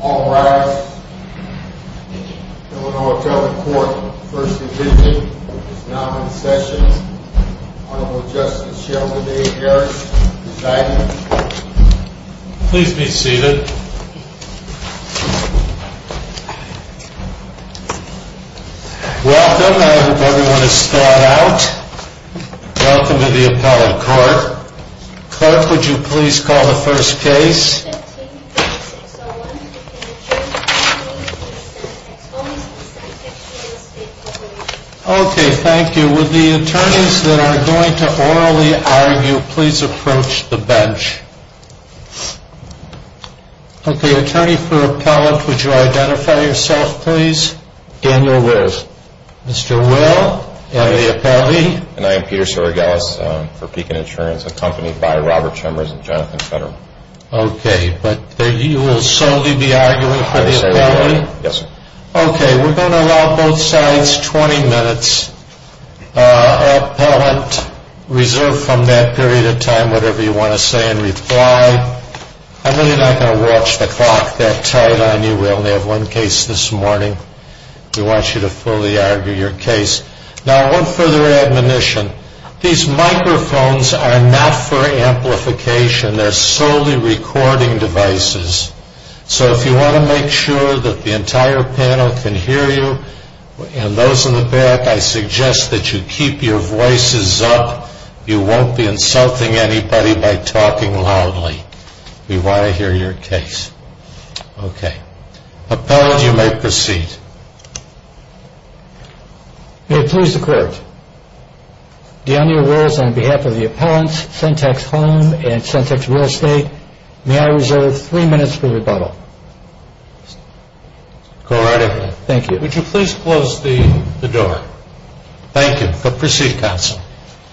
All rise. The Illinois Appellate Court, First Division, is now in session. Honorable Justice Sheldon A. Harris, presiding. Please be seated. Welcome. I hope everyone is thawed out. Welcome to the Appellate Court. Clerk, would you please call the first case? Okay. Thank you. Would the attorneys that are going to orally argue please approach the bench? Okay. Attorney for Appellate, would you identify yourself, please? Daniel Wills. Mr. Wills, you are the appellee. And I am Peter Saragelis for Pekin Insurance, accompanied by Robert Chemers and Jonathan Federer. Okay. But you will solely be arguing for the appellee? Yes, sir. Okay. We're going to allow both sides 20 minutes. Appellant, reserve from that period of time whatever you want to say in reply. I'm really not going to watch the clock that tight on you. We only have one case this morning. We want you to fully argue your case. Now, one further admonition. These microphones are not for amplification. They're solely recording devices. So if you want to make sure that the entire panel can hear you and those in the back, I suggest that you keep your voices up. You won't be insulting anybody by talking loudly. We want to hear your case. Okay. Appellant, you may proceed. May it please the Court, do on your words on behalf of the appellants, Sentex Home and Sentex Real Estate, may I reserve three minutes for rebuttal? Go right ahead. Thank you. Would you please close the door? Thank you. But proceed, counsel.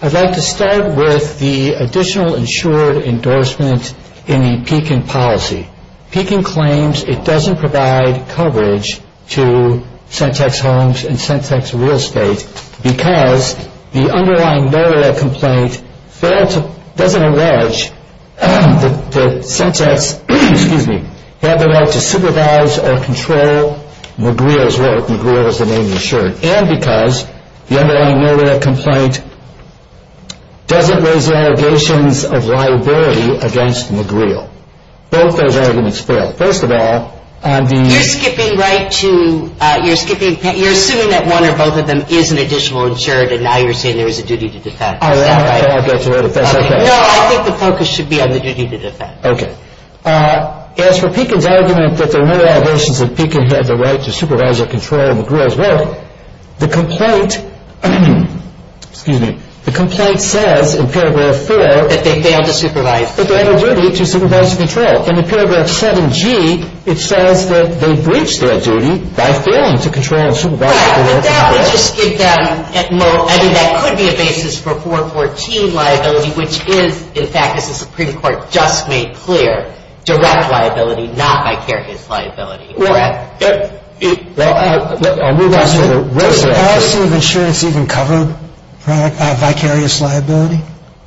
I'd like to start with the additional insured endorsement in the Pekin policy. Pekin claims it doesn't provide coverage to Sentex Homes and Sentex Real Estate because the underlying no-reliant complaint doesn't allege that Sentex have the right to supervise or control McReel, McReel is the name of the insurance, and because the underlying no-reliant complaint doesn't raise allegations of liability against McReel. Both those arguments fail. First of all, on the- You're skipping right to, you're skipping, you're assuming that one or both of them is an additional insured and now you're saying there is a duty to defend. Oh, that's right, that's right, that's right. No, I think the focus should be on the duty to defend. Okay. As for Pekin's argument that there are no allegations that Pekin had the right to supervise or control McReel as well, the complaint, excuse me, the complaint says in paragraph four- That they failed to supervise. That they had a duty to supervise and control. In the paragraph 7G, it says that they breached their duty by failing to control and supervise McReel. Right, but that would just give them, I mean, that could be a basis for 414 liability, which is, in fact, as the Supreme Court just made clear, direct liability, not vicarious liability. Correct? I'll move on to the rest of it. Does the policy of insurance even cover vicarious liability?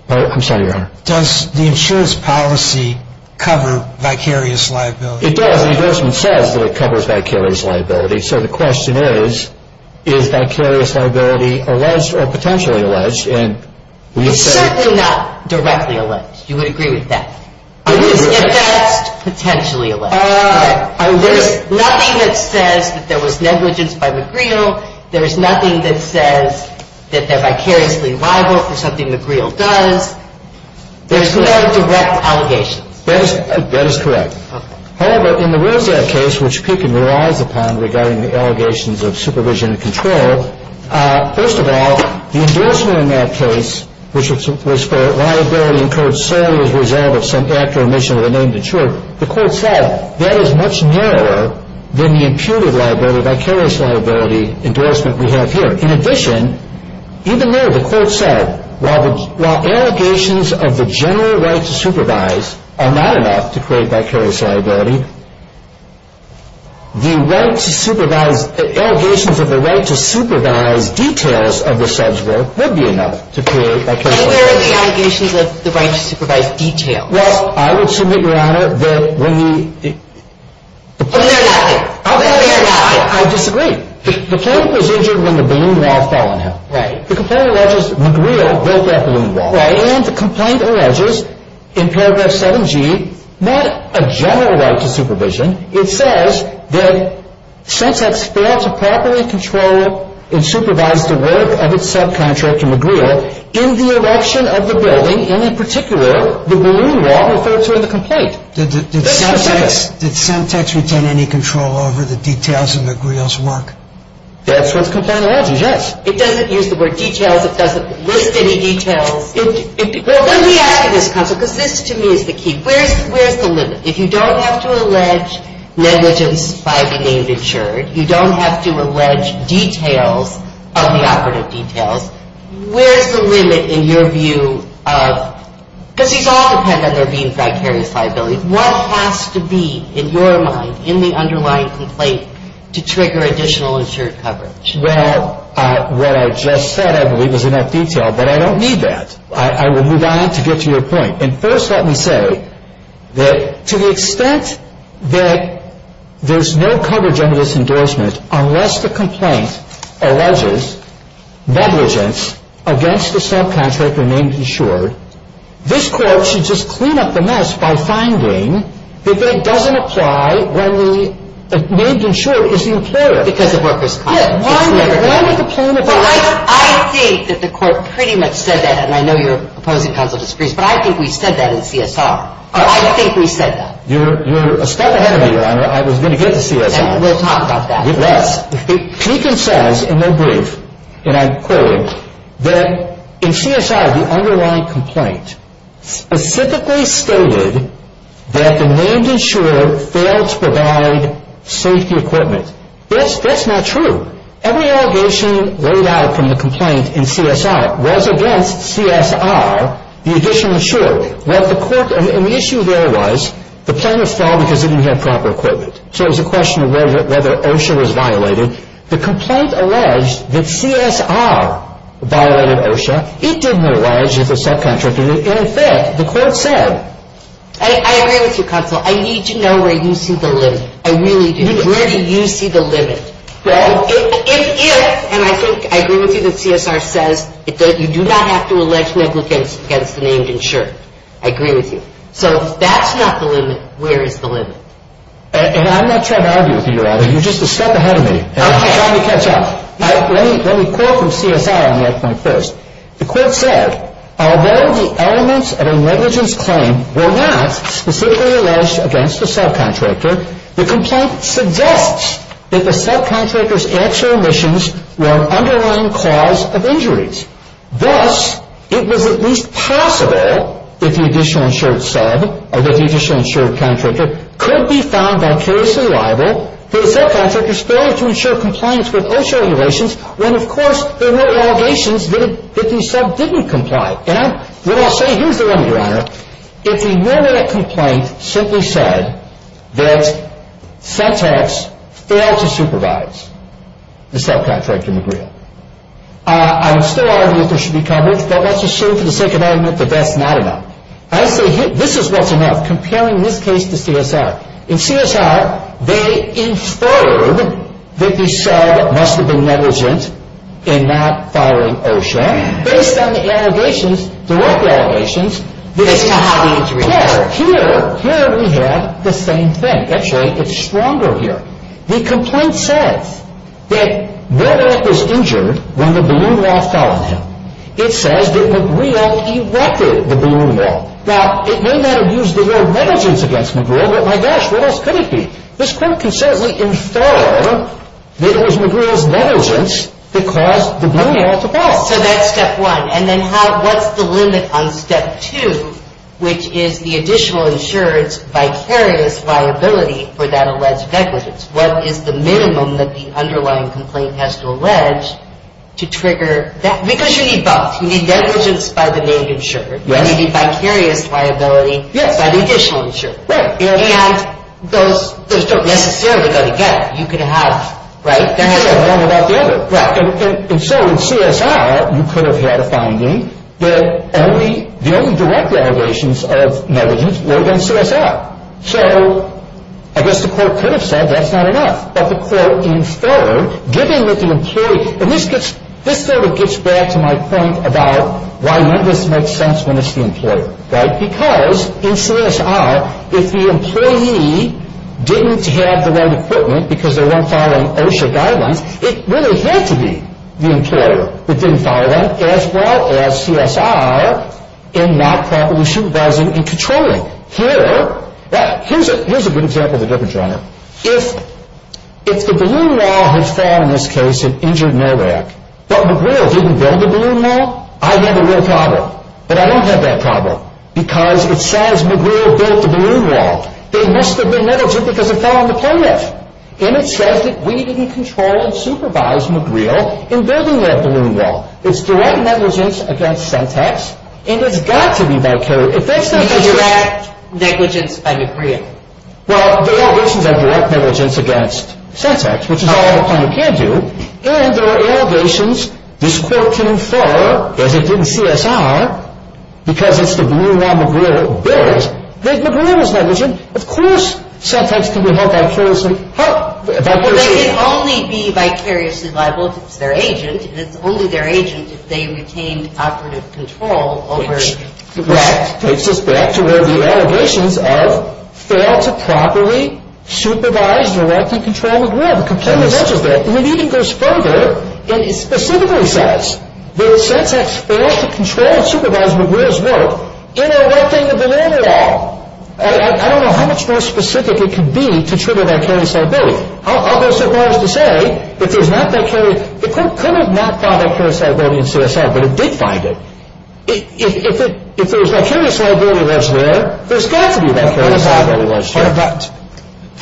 I'm sorry, Your Honor. Does the insurance policy cover vicarious liability? It does. The endorsement says that it covers vicarious liability. So the question is, is vicarious liability alleged or potentially alleged? It's certainly not directly alleged. You would agree with that? It is alleged. If that's potentially alleged. There's nothing that says that there was negligence by McReel. There's nothing that says that they're vicariously liable for something McReel does. There's no direct allegations. That is correct. However, in the Rosette case, which Pekin relies upon regarding the allegations of supervision and control, first of all, the endorsement in that case, which was for liability incurred solely as a result of some act or omission of a name to ensure, the court said, that is much narrower than the imputed liability, vicarious liability endorsement we have here. In addition, even there, the court said, while allegations of the general right to supervise are not enough to create vicarious liability, the right to supervise, the allegations of the right to supervise details of the subject would be enough to create vicarious liability. And where are the allegations of the right to supervise details? Well, I would submit, Your Honor, that when the... Let me hear about it. Let me hear about it. I disagree. The plaintiff was injured when the balloon wall fell on him. Right. The complaint alleges McReel built that balloon wall. Right. And the complaint alleges, in paragraph 7G, not a general right to supervision. It says that since it's failed to properly control and supervise the work of its subcontractor, McReel, in the erection of the building, and in particular, the balloon wall, referred to in the complaint. Did Semtex retain any control over the details of McReel's work? That's what the complaint alleges, yes. It doesn't use the word details. It doesn't list any details. Well, let me ask you this, counsel, because this, to me, is the key. Where's the limit? If you don't have to allege negligence by the named insured, you don't have to allege details of the operative details, where's the limit in your view of, because these all depend on there being vicarious liability, what has to be, in your mind, in the underlying complaint, to trigger additional insured coverage? Well, what I just said, I believe, is enough detail, but I don't need that. I will move on to get to your point. And first let me say that to the extent that there's no coverage under this endorsement, unless the complaint alleges negligence against the subcontractor named insured, this court should just clean up the mess by finding that it doesn't apply when the named insured is the operative. Because of workers' compensation. Why would the plaintiff not? I think that the court pretty much said that, and I know your opposing counsel disagrees, but I think we said that in CSR. I think we said that. You're a step ahead of me, Your Honor. I was going to get to CSR. We'll talk about that. Yes. Pekin says in their brief, and I quote, that in CSR the underlying complaint specifically stated that the named insured failed to provide safety equipment. That's not true. Every allegation laid out from the complaint in CSR was against CSR, the additional insured. What the court, and the issue there was, the plaintiff fell because they didn't have proper equipment. So it was a question of whether OSHA was violated. The complaint alleged that CSR violated OSHA. It didn't allege that the subcontractor did. In effect, the court said. I agree with you, counsel. I need to know where you see the limit. I really do. Where do you see the limit? Well, it is, and I think, I agree with you that CSR says that you do not have to allege negligence against the named insured. I agree with you. So if that's not the limit, where is the limit? And I'm not trying to argue with you either. You're just a step ahead of me. Okay. Let me catch up. Let me quote from CSR on that point first. The court said, although the elements of a negligence claim were not specifically alleged against the subcontractor, the complaint suggests that the subcontractor's actual omissions were an underlying cause of injuries. Thus, it was at least possible that the additional insured sub, or that the additional insured contractor, could be found vicariously liable for the subcontractor's failure to ensure compliance with OSHA regulations when, of course, there were allegations that the sub didn't comply. And what I'll say, here's the limit, Your Honor. If the one-minute complaint simply said that CENTAX failed to supervise the subcontractor, I would still argue that there should be coverage. But let's assume, for the sake of argument, that that's not enough. This is what's enough, comparing this case to CSR. In CSR, they inferred that the sub must have been negligent in not filing OSHA. Based on the allegations, the work allegations, here we have the same thing. That's right. It's stronger here. The complaint says that McGreel was injured when the balloon wall fell on him. It says that McGreel erected the balloon wall. Now, it may not have used the word negligence against McGreel, but my gosh, what else could it be? This court can certainly infer that it was McGreel's negligence that caused the balloon wall to fall. So that's step one. And then what's the limit on step two, which is the additional insurer's vicarious liability for that alleged negligence? What is the minimum that the underlying complaint has to allege to trigger that? Because you need both. You need negligence by the named insurer, and you need vicarious liability by the additional insurer. Right. And those don't necessarily go together. You could have one without the other. Right. And so in CSR, you could have had a finding that the only direct allegations of negligence were in CSR. So I guess the court could have said that's not enough. But the court inferred, given that the employee – and this sort of gets back to my point about why none of this makes sense when it's the employer. Right. It didn't follow that, as well as CSR in not properly supervising and controlling. Here's a good example of the difference, Your Honor. If the balloon wall had fallen in this case and injured Norvac, but McGreel didn't build the balloon wall, I'd have a real problem. But I don't have that problem because it says McGreel built the balloon wall. They must have been negligent because it fell on the play net. And it says that we didn't control and supervise McGreel in building that balloon wall. It's direct negligence against Sentex. And it's got to be vicarious. It's direct negligence by McGreel. Well, the allegations are direct negligence against Sentex, which is all the plaintiff can do. And there are allegations this court can infer, as it did in CSR, because it's the balloon wall McGreel built, that McGreel was negligent. Of course Sentex can be held vicariously liable if it's their agent. And it's only their agent if they retained operative control over McGreel. Which takes us back to where the allegations of fail to properly supervise, direct, and control McGreel are completely negligent. And it even goes further, and it specifically says that Sentex failed to control and supervise McGreel's work in erecting the balloon wall. I don't know how much more specific it could be to trigger vicarious liability. I'll go so far as to say if there's not vicarious – the court could have not found vicarious liability in CSR, but it did find it. If there's vicarious liability that's there, there's got to be vicarious liability that's there.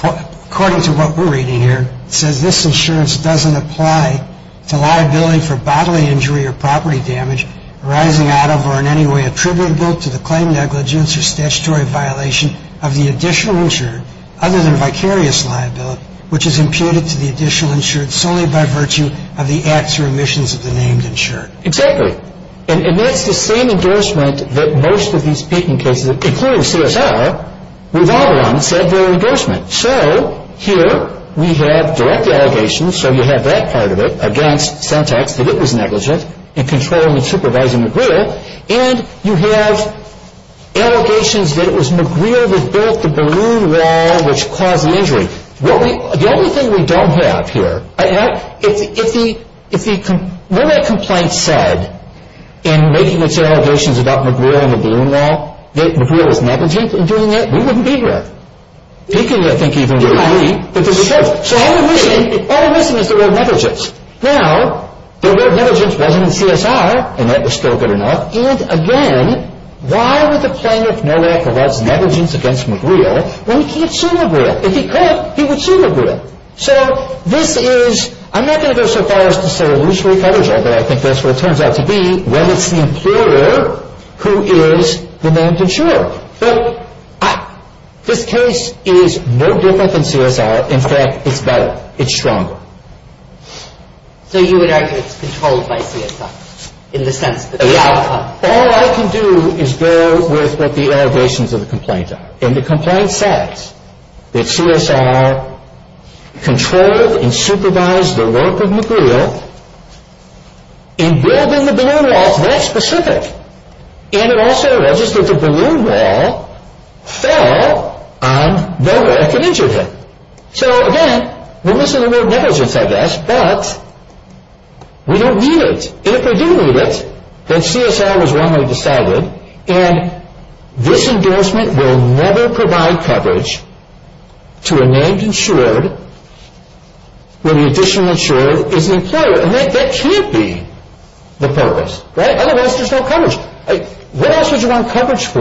But according to what we're reading here, it says this insurance doesn't apply to liability for bodily injury or property damage arising out of or in any way attributable to the claim negligence or statutory violation of the additional insured other than vicarious liability, which is imputed to the additional insured solely by virtue of the acts or omissions of the named insured. Exactly. And that's the same endorsement that most of these speaking cases, including CSR, with all of them said their endorsement. So here we have direct allegations, so you have that part of it, against Sentex that it was negligent in controlling and supervising McGreel. And you have allegations that it was McGreel that built the balloon wall which caused the injury. The only thing we don't have here – if the – what that complaint said in making its allegations about McGreel and the balloon wall, that McGreel was negligent in doing that, we wouldn't be here. We could, I think, even agree that this is true. So all we're missing is the word negligence. Now, the word negligence wasn't in CSR, and that was still good enough. And, again, why would the plaintiff know that there was negligence against McGreel when he can't sue McGreel? If he could, he would sue McGreel. So this is – I'm not going to go so far as to say illusory federal, but I think that's what it turns out to be when it's the employer who is the named insured. But this case is no different than CSR. In fact, it's better. It's stronger. So you would argue it's controlled by CSR in the sense that the outcome – All I can do is go with what the allegations of the complaint are. And the complaint says that CSR controlled and supervised the work of McGreel in building the balloon walls. That's specific. And it also registered the balloon wall fell on the worker that injured him. So, again, we're missing the word negligence, I guess, but we don't need it. And if we do need it, then CSR was wrongly decided. And this endorsement will never provide coverage to a named insured when the additional insured is an employer. And that can't be the purpose, right? Otherwise, there's no coverage. What else would you want coverage for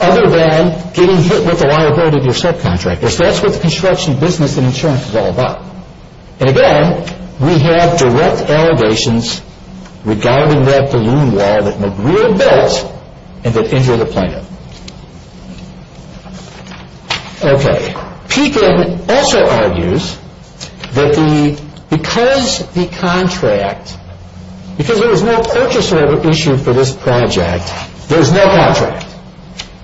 other than getting hit with the wire board of your subcontractor? Because that's what the construction business and insurance is all about. And, again, we have direct allegations regarding that balloon wall that McGreel built and that injured a plaintiff. Okay. Pekin also argues that because the contract – because there was no purchaser issue for this project, there was no contract.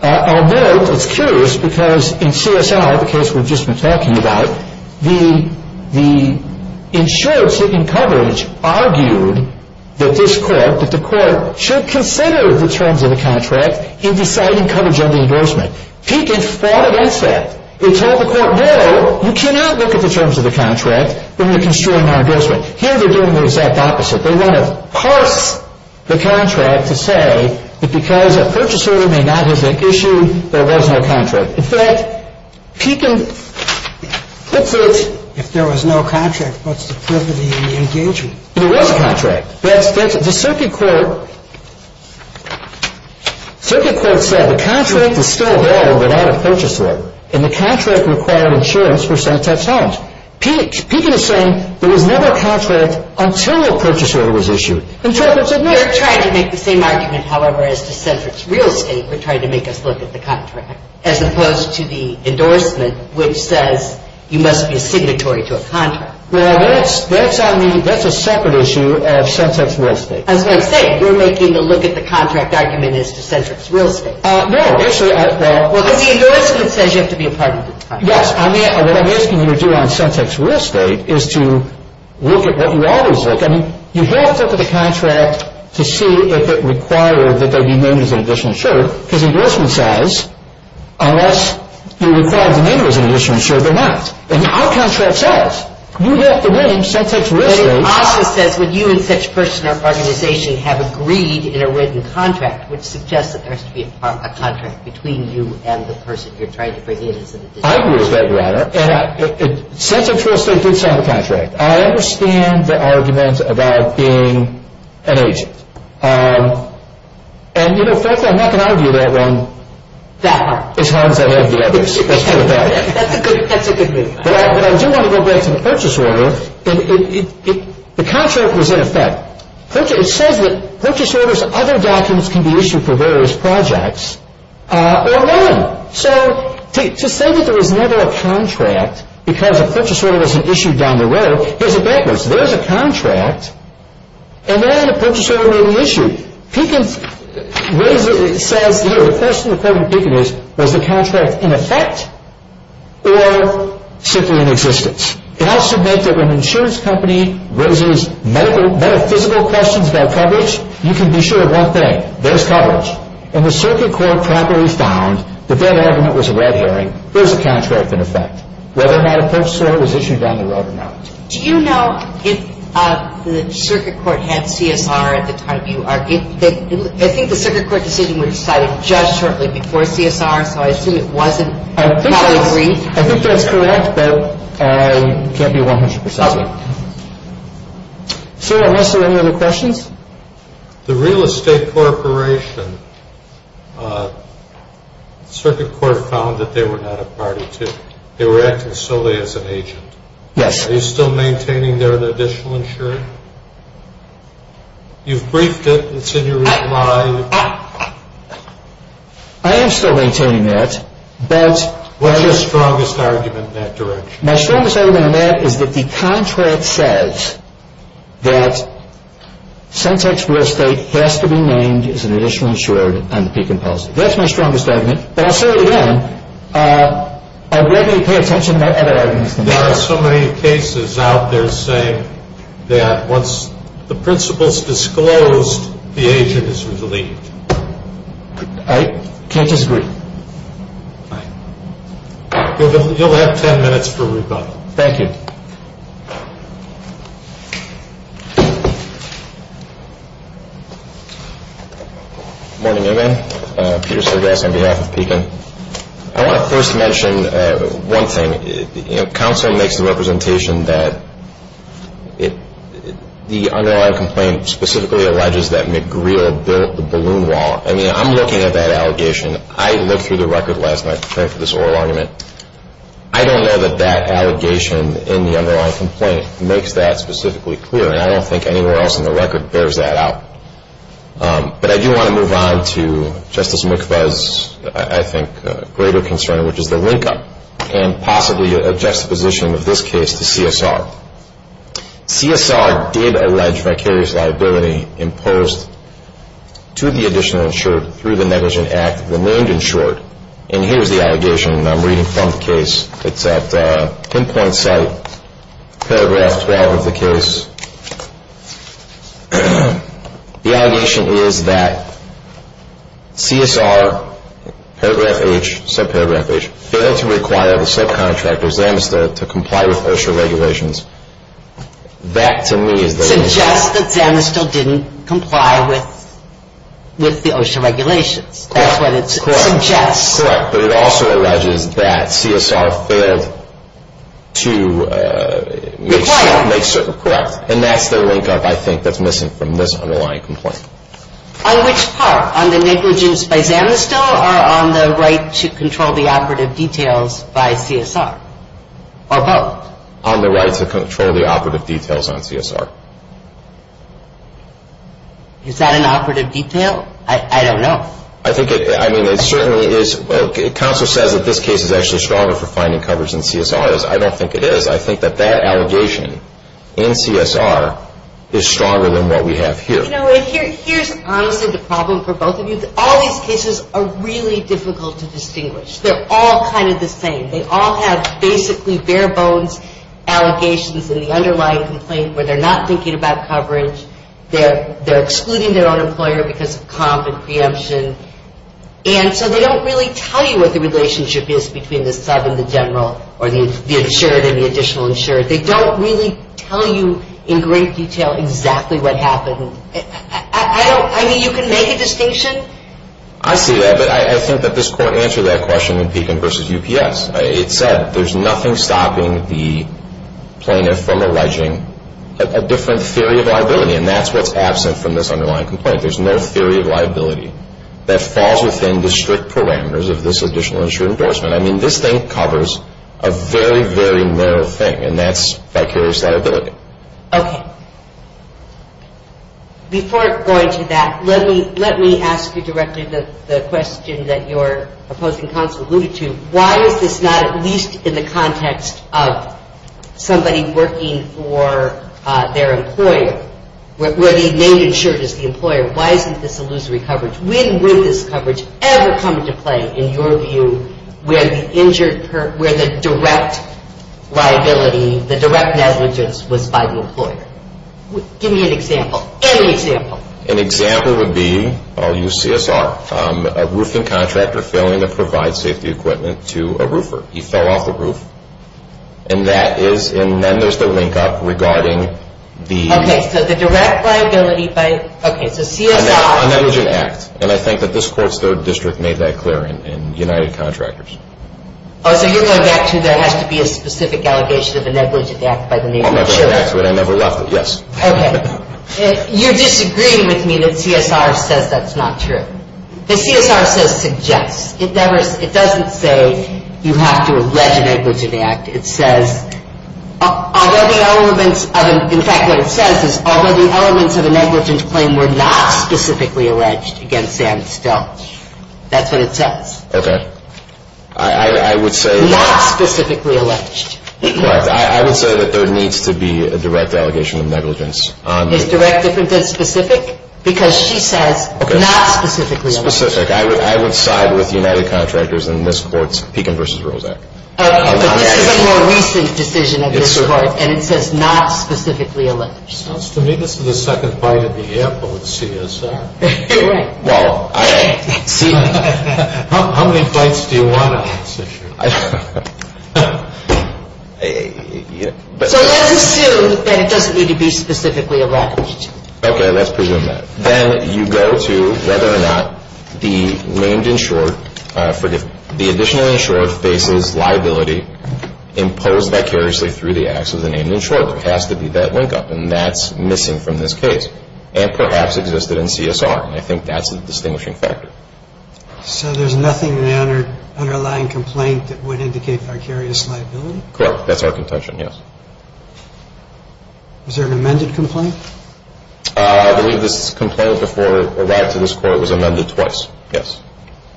Although it's curious because in CSR, the case we've just been talking about, the insured seeking coverage argued that this court – that the court should consider the terms of the contract in deciding coverage on the endorsement. Pekin fought against that. They told the court, no, you cannot look at the terms of the contract when you're construing our endorsement. Here they're doing the exact opposite. They want to parse the contract to say that because a purchaser may not have had an issue, there was no contract. In fact, Pekin puts it – If there was no contract, what's the privilege in the engagement? There was a contract. The circuit court – the circuit court said the contract is still there without a purchaser. And the contract required insurance for some times. Pekin is saying there was never a contract until a purchaser was issued. And the circuit court said no. You're trying to make the same argument, however, as to centric real estate. You're trying to make us look at the contract as opposed to the endorsement, which says you must be a signatory to a contract. Well, that's on the – that's a separate issue as to centric real estate. That's what I'm saying. You're making the look at the contract argument as to centric real estate. No, actually – Well, because the endorsement says you have to be a partner to the contract. Yes. I mean, what I'm asking you to do on centric real estate is to look at what you always look at. I mean, you have to look at the contract to see if it required that they be named as an additional insurer, because the endorsement says unless you require the name as an additional insurer, they're not. And our contract says you have to name centric real estate. It also says would you and such person or organization have agreed in a written contract, which suggests that there has to be a contract between you and the person you're trying to bring in as an additional insurer. I agree with that rather. And centric real estate did sign the contract. I understand the argument about being an agent. And, you know, frankly, I'm not going to argue that one as hard as I love the others. That's for the best. That's a good move. But I do want to go back to the purchase order. The contract was in effect. It says that purchase orders and other documents can be issued for various projects or none. So to say that there was never a contract because a purchase order wasn't issued down the road, here's the backwards. There's a contract, and then a purchase order made an issue. Pekin says, you know, the question to President Pekin is, was the contract in effect or simply in existence? It also meant that when an insurance company raises metaphysical questions about coverage, you can be sure of one thing. There's coverage. And the circuit court properly found that that argument was a red herring. There's a contract in effect. Whether or not a purchase order was issued down the road or not. Do you know if the circuit court had CSR at the time you argued? I think the circuit court decision was decided just shortly before CSR, so I assume it wasn't probably brief. I think that's correct, but it can't be 100 percent. Sir, are there any other questions? The real estate corporation, the circuit court found that they were not a party to it. They were acting solely as an agent. Yes. Are you still maintaining their additional insurance? You've briefed it. It's in your reply. I am still maintaining that. What's your strongest argument in that direction? My strongest argument in that is that the contract says that centex real estate has to be named as an additional insurer on the peak in policy. That's my strongest argument. But I'll say it again, I regularly pay attention to that argument. There are so many cases out there saying that once the principle's disclosed, the agent is relieved. I can't disagree. You'll have ten minutes for rebuttal. Thank you. Good morning, everyone. Peter Sergis on behalf of PECAN. I want to first mention one thing. Counsel makes the representation that the underlying complaint specifically alleges that McGreal built the balloon wall. I mean, I'm looking at that allegation. I looked through the record last night preparing for this oral argument. I don't know that that allegation in the underlying complaint makes that specifically clear, and I don't think anywhere else in the record bears that out. But I do want to move on to Justice McFa's, I think, greater concern, which is the link-up and possibly a juxtaposition of this case to CSR. CSR did allege vicarious liability imposed to the additional insured through the negligent act of the named insured, and here's the allegation that I'm reading from the case. It's at pinpoint site, paragraph 12 of the case. The allegation is that CSR, paragraph H, subparagraph H, failed to require the subcontractor, Zanistel, to comply with OSHA regulations. That, to me, is the link-up. It suggests that Zanistel didn't comply with the OSHA regulations. Correct. That's what it suggests. Correct, but it also alleges that CSR failed to make certain. Require. Correct, and that's the link-up, I think, that's missing from this underlying complaint. On which part? On the negligence by Zanistel or on the right to control the operative details by CSR, or both? On the right to control the operative details on CSR. Is that an operative detail? I don't know. I think it certainly is. Counsel says that this case is actually stronger for finding coverage than CSR is. I don't think it is. I think that that allegation in CSR is stronger than what we have here. You know, here's honestly the problem for both of you. All these cases are really difficult to distinguish. They're all kind of the same. They all have basically bare bones allegations in the underlying complaint where they're not thinking about coverage. They're excluding their own employer because of comp and preemption, and so they don't really tell you what the relationship is between the sub and the general, or the insured and the additional insured. They don't really tell you in great detail exactly what happened. I mean, you can make a distinction. I see that, but I think that this Court answered that question in Pekin v. UPS. It said there's nothing stopping the plaintiff from alleging a different theory of liability, and that's what's absent from this underlying complaint. There's no theory of liability that falls within the strict parameters of this additional insured endorsement. I mean, this thing covers a very, very narrow thing, and that's vicarious liability. Okay. Before going to that, let me ask you directly the question that your opposing counsel alluded to. Why is this not at least in the context of somebody working for their employer, where the main insured is the employer? Why isn't this illusory coverage? When would this coverage ever come into play, in your view, where the direct liability, the direct negligence was by the employer? Give me an example, any example. An example would be, I'll use CSR, a roofing contractor failing to provide safety equipment to a roofer. He fell off the roof, and then there's the link-up regarding the… Okay, so the direct liability by, okay, so CSR… A negligent act, and I think that this Court's third district made that clear in United Contractors. Oh, so you're going back to there has to be a specific allegation of a negligent act by the main insured? A negligent act, but I never left it, yes. Okay. You're disagreeing with me that CSR says that's not true. The CSR says suggests. It doesn't say you have to allege a negligent act. It says, in fact, what it says is, although the elements of a negligent claim were not specifically alleged against Sam Still, that's what it says. Okay. I would say… Not specifically alleged. Correct. I would say that there needs to be a direct allegation of negligence. Is direct different than specific? Because she says not specifically alleged. Specific. I would side with United Contractors in this Court's Pekin v. Rozak. Okay. But this is a more recent decision of this Court, and it says not specifically alleged. Sounds to me this is the second fight in the air, but with CSR. Right. Well, I… How many fights do you want on this issue? I don't know. So let's assume that it doesn't need to be specifically alleged. Okay. Let's presume that. Then you go to whether or not the named insured, forgive me, the additional insured faces liability imposed vicariously through the acts of the named insured. There has to be that linkup, and that's missing from this case, and perhaps existed in CSR, and I think that's the distinguishing factor. So there's nothing in the underlying complaint that would indicate vicarious liability? Correct. That's our contention, yes. Is there an amended complaint? I believe this complaint before it arrived to this Court was amended twice, yes.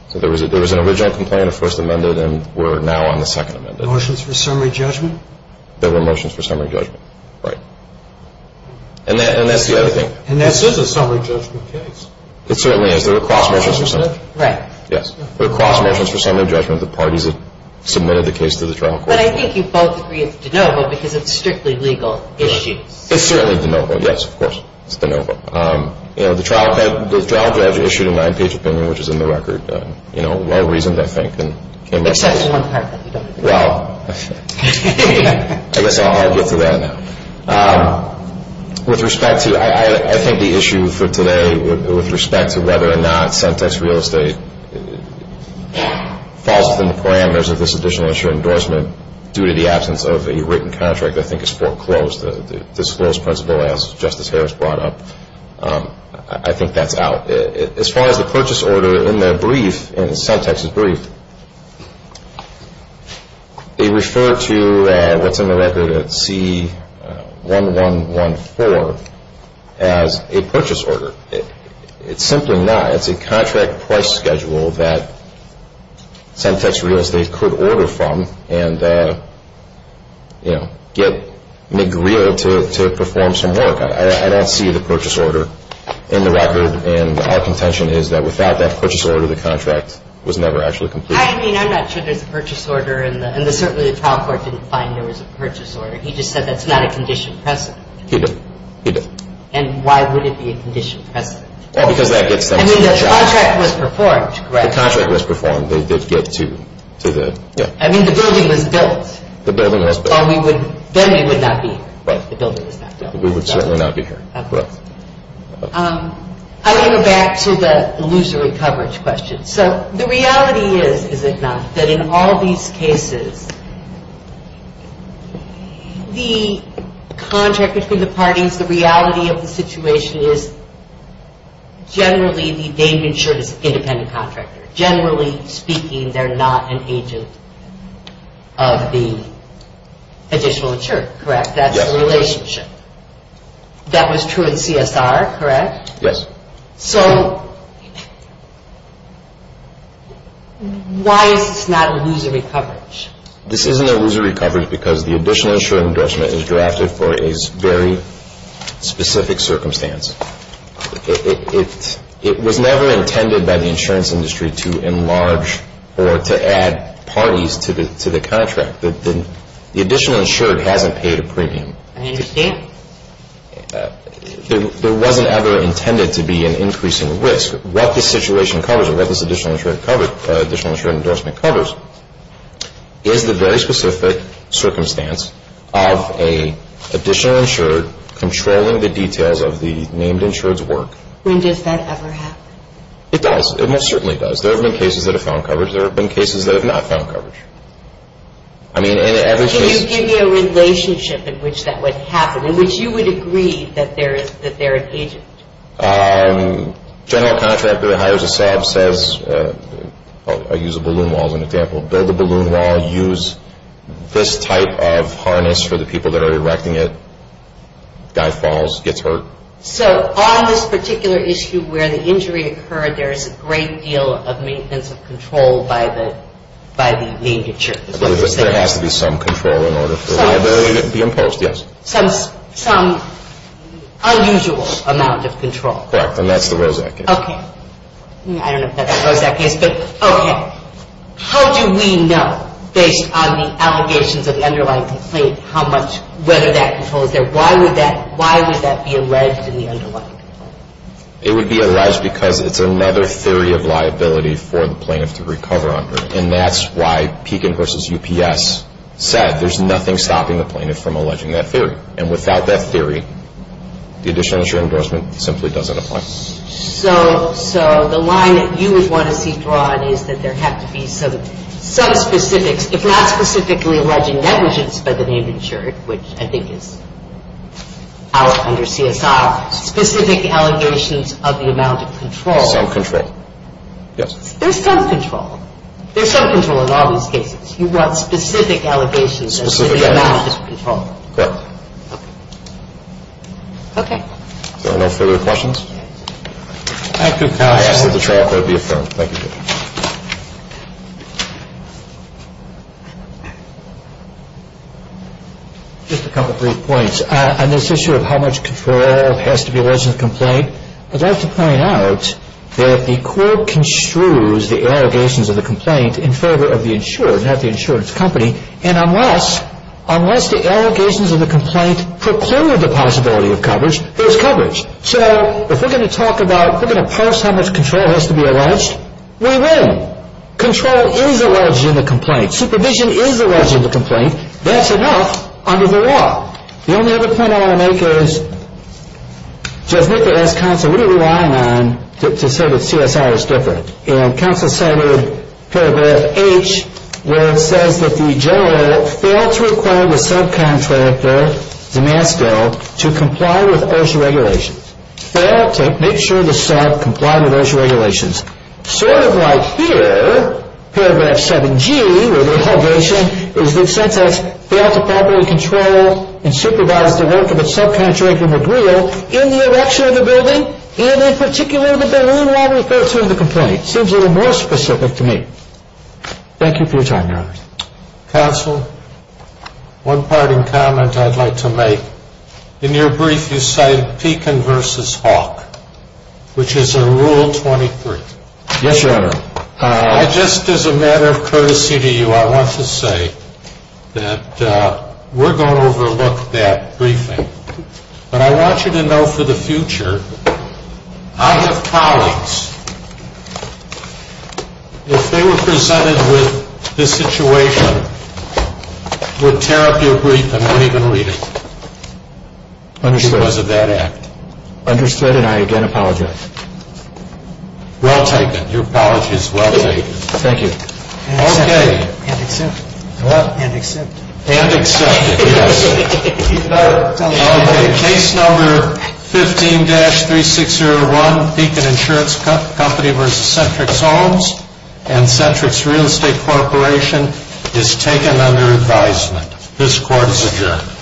So there was an original complaint, a first amended, and we're now on the second amended. Motions for summary judgment? There were motions for summary judgment, right. And that's the other thing. And this is a summary judgment case. It certainly is. There were cross motions for summary judgment. Right. Yes. There were cross motions for summary judgment. The parties have submitted the case to the trial court. But I think you both agree it's de novo because it's strictly legal issues. It's certainly de novo, yes, of course. It's de novo. You know, the trial judge issued a nine-page opinion, which is in the record. You know, well-reasoned, I think. Except for one part. Well, I guess I'll get to that now. With respect to, I think the issue for today with respect to whether or not sentenced real estate falls within the parameters of this additional insurer endorsement due to the absence of a written contract, I think it's foreclosed. The disclosed principle, as Justice Harris brought up, I think that's out. As far as the purchase order in the brief, in the sentences brief, they refer to what's in the record at C1114 as a purchase order. It's simply not. It's a contract price schedule that sentenced real estate could order from. And, you know, get McGreal to perform some work. I don't see the purchase order in the record. And our contention is that without that purchase order, the contract was never actually completed. I mean, I'm not sure there's a purchase order, and certainly the trial court didn't find there was a purchase order. He just said that's not a condition present. He did. And why would it be a condition present? Well, because that gets them to the job. I mean, the contract was performed, correct? The contract was performed. And they did get to the, yeah. I mean, the building was built. The building was built. Then we would not be here. Right. The building was not built. We would certainly not be here. Okay. I want to go back to the illusory coverage question. So the reality is, is it not, that in all these cases, the contract between the parties, the reality of the situation is generally they've been insured as an independent contractor. Generally speaking, they're not an agent of the additional insurer, correct? Yes. That's the relationship. That was true in CSR, correct? Yes. So why is this not illusory coverage? This isn't illusory coverage because the additional insured endorsement is drafted for a very specific circumstance. It was never intended by the insurance industry to enlarge or to add parties to the contract. The additional insured hasn't paid a premium. I understand. There wasn't ever intended to be an increasing risk. What this situation covers, or what this additional insured endorsement covers, is the very specific circumstance of an additional insured controlling the details of the named insured's work. When does that ever happen? It does. It most certainly does. There have been cases that have found coverage. There have been cases that have not found coverage. Can you give me a relationship in which that would happen, in which you would agree that they're an agent? General contractor that hires a SAB says, I use a balloon wall as an example, build a balloon wall, use this type of harness for the people that are erecting it, guy falls, gets hurt. So on this particular issue where the injury occurred, there is a great deal of maintenance of control by the named insured. There has to be some control in order for liability to be imposed, yes. Some unusual amount of control. Correct, and that's the Rosak case. Okay. I don't know if that's the Rosak case, but okay. How do we know, based on the allegations of the underlying complaint, whether that control is there? Why would that be alleged in the underlying complaint? It would be alleged because it's another theory of liability for the plaintiff to recover under, and that's why Pekin versus UPS said there's nothing stopping the plaintiff from alleging that theory, and without that theory, the additional insurance endorsement simply doesn't apply. So the line that you would want to see drawn is that there have to be some specifics, if not specifically alleging negligence by the named insured, which I think is out under CSR, specific allegations of the amount of control. Some control, yes. There's some control. There's some control in all these cases. You want specific allegations of the amount of control. Specific allegations. Correct. Okay. Are there no further questions? Thank you, counsel. I ask that the trial court be affirmed. Thank you. Just a couple brief points. On this issue of how much control has to be alleged in a complaint, I'd like to point out that the court construes the allegations of the complaint in favor of the insured, not the insurance company, and unless the allegations of the complaint procure the possibility of coverage, there's coverage. So if we're going to talk about, if we're going to parse how much control has to be alleged, we win. Control is alleged in the complaint. Supervision is alleged in the complaint. That's enough under the law. The only other point I want to make is just look at this, counsel. What are we relying on to say that CSR is different? And counsel cited Paragraph H where it says that the general edit failed to require the subcontractor, DeMasto, to comply with OSHA regulations. Failed to make sure the sub complied with OSHA regulations. Sort of like here, Paragraph 7G where the allegation is that CSR failed to properly control and supervise the work of its subcontractor, Magrillo, in the erection of the building, and in particular the building while referring to the complaint. Seems a little more specific to me. Thank you for your time, Your Honor. Counsel, one parting comment I'd like to make. In your brief, you cited Pekin v. Hawk, which is a Rule 23. Yes, Your Honor. Just as a matter of courtesy to you, I want to say that we're going to overlook that briefing. But I want you to know for the future, I have colleagues, I have colleagues who are going to be present with this situation. And I want you to know that if they were presented with this situation, would tear up your brief and not even read it because of that act. Understood. Understood. And I again apologize. Well taken. Your apology is well taken. Thank you. And accepted. And accepted. And accepted, yes. Case number 15-3601, Pekin Insurance Company v. Centrix Homes and Centrix Real Estate Corporation is taken under advisement. This court is adjourned.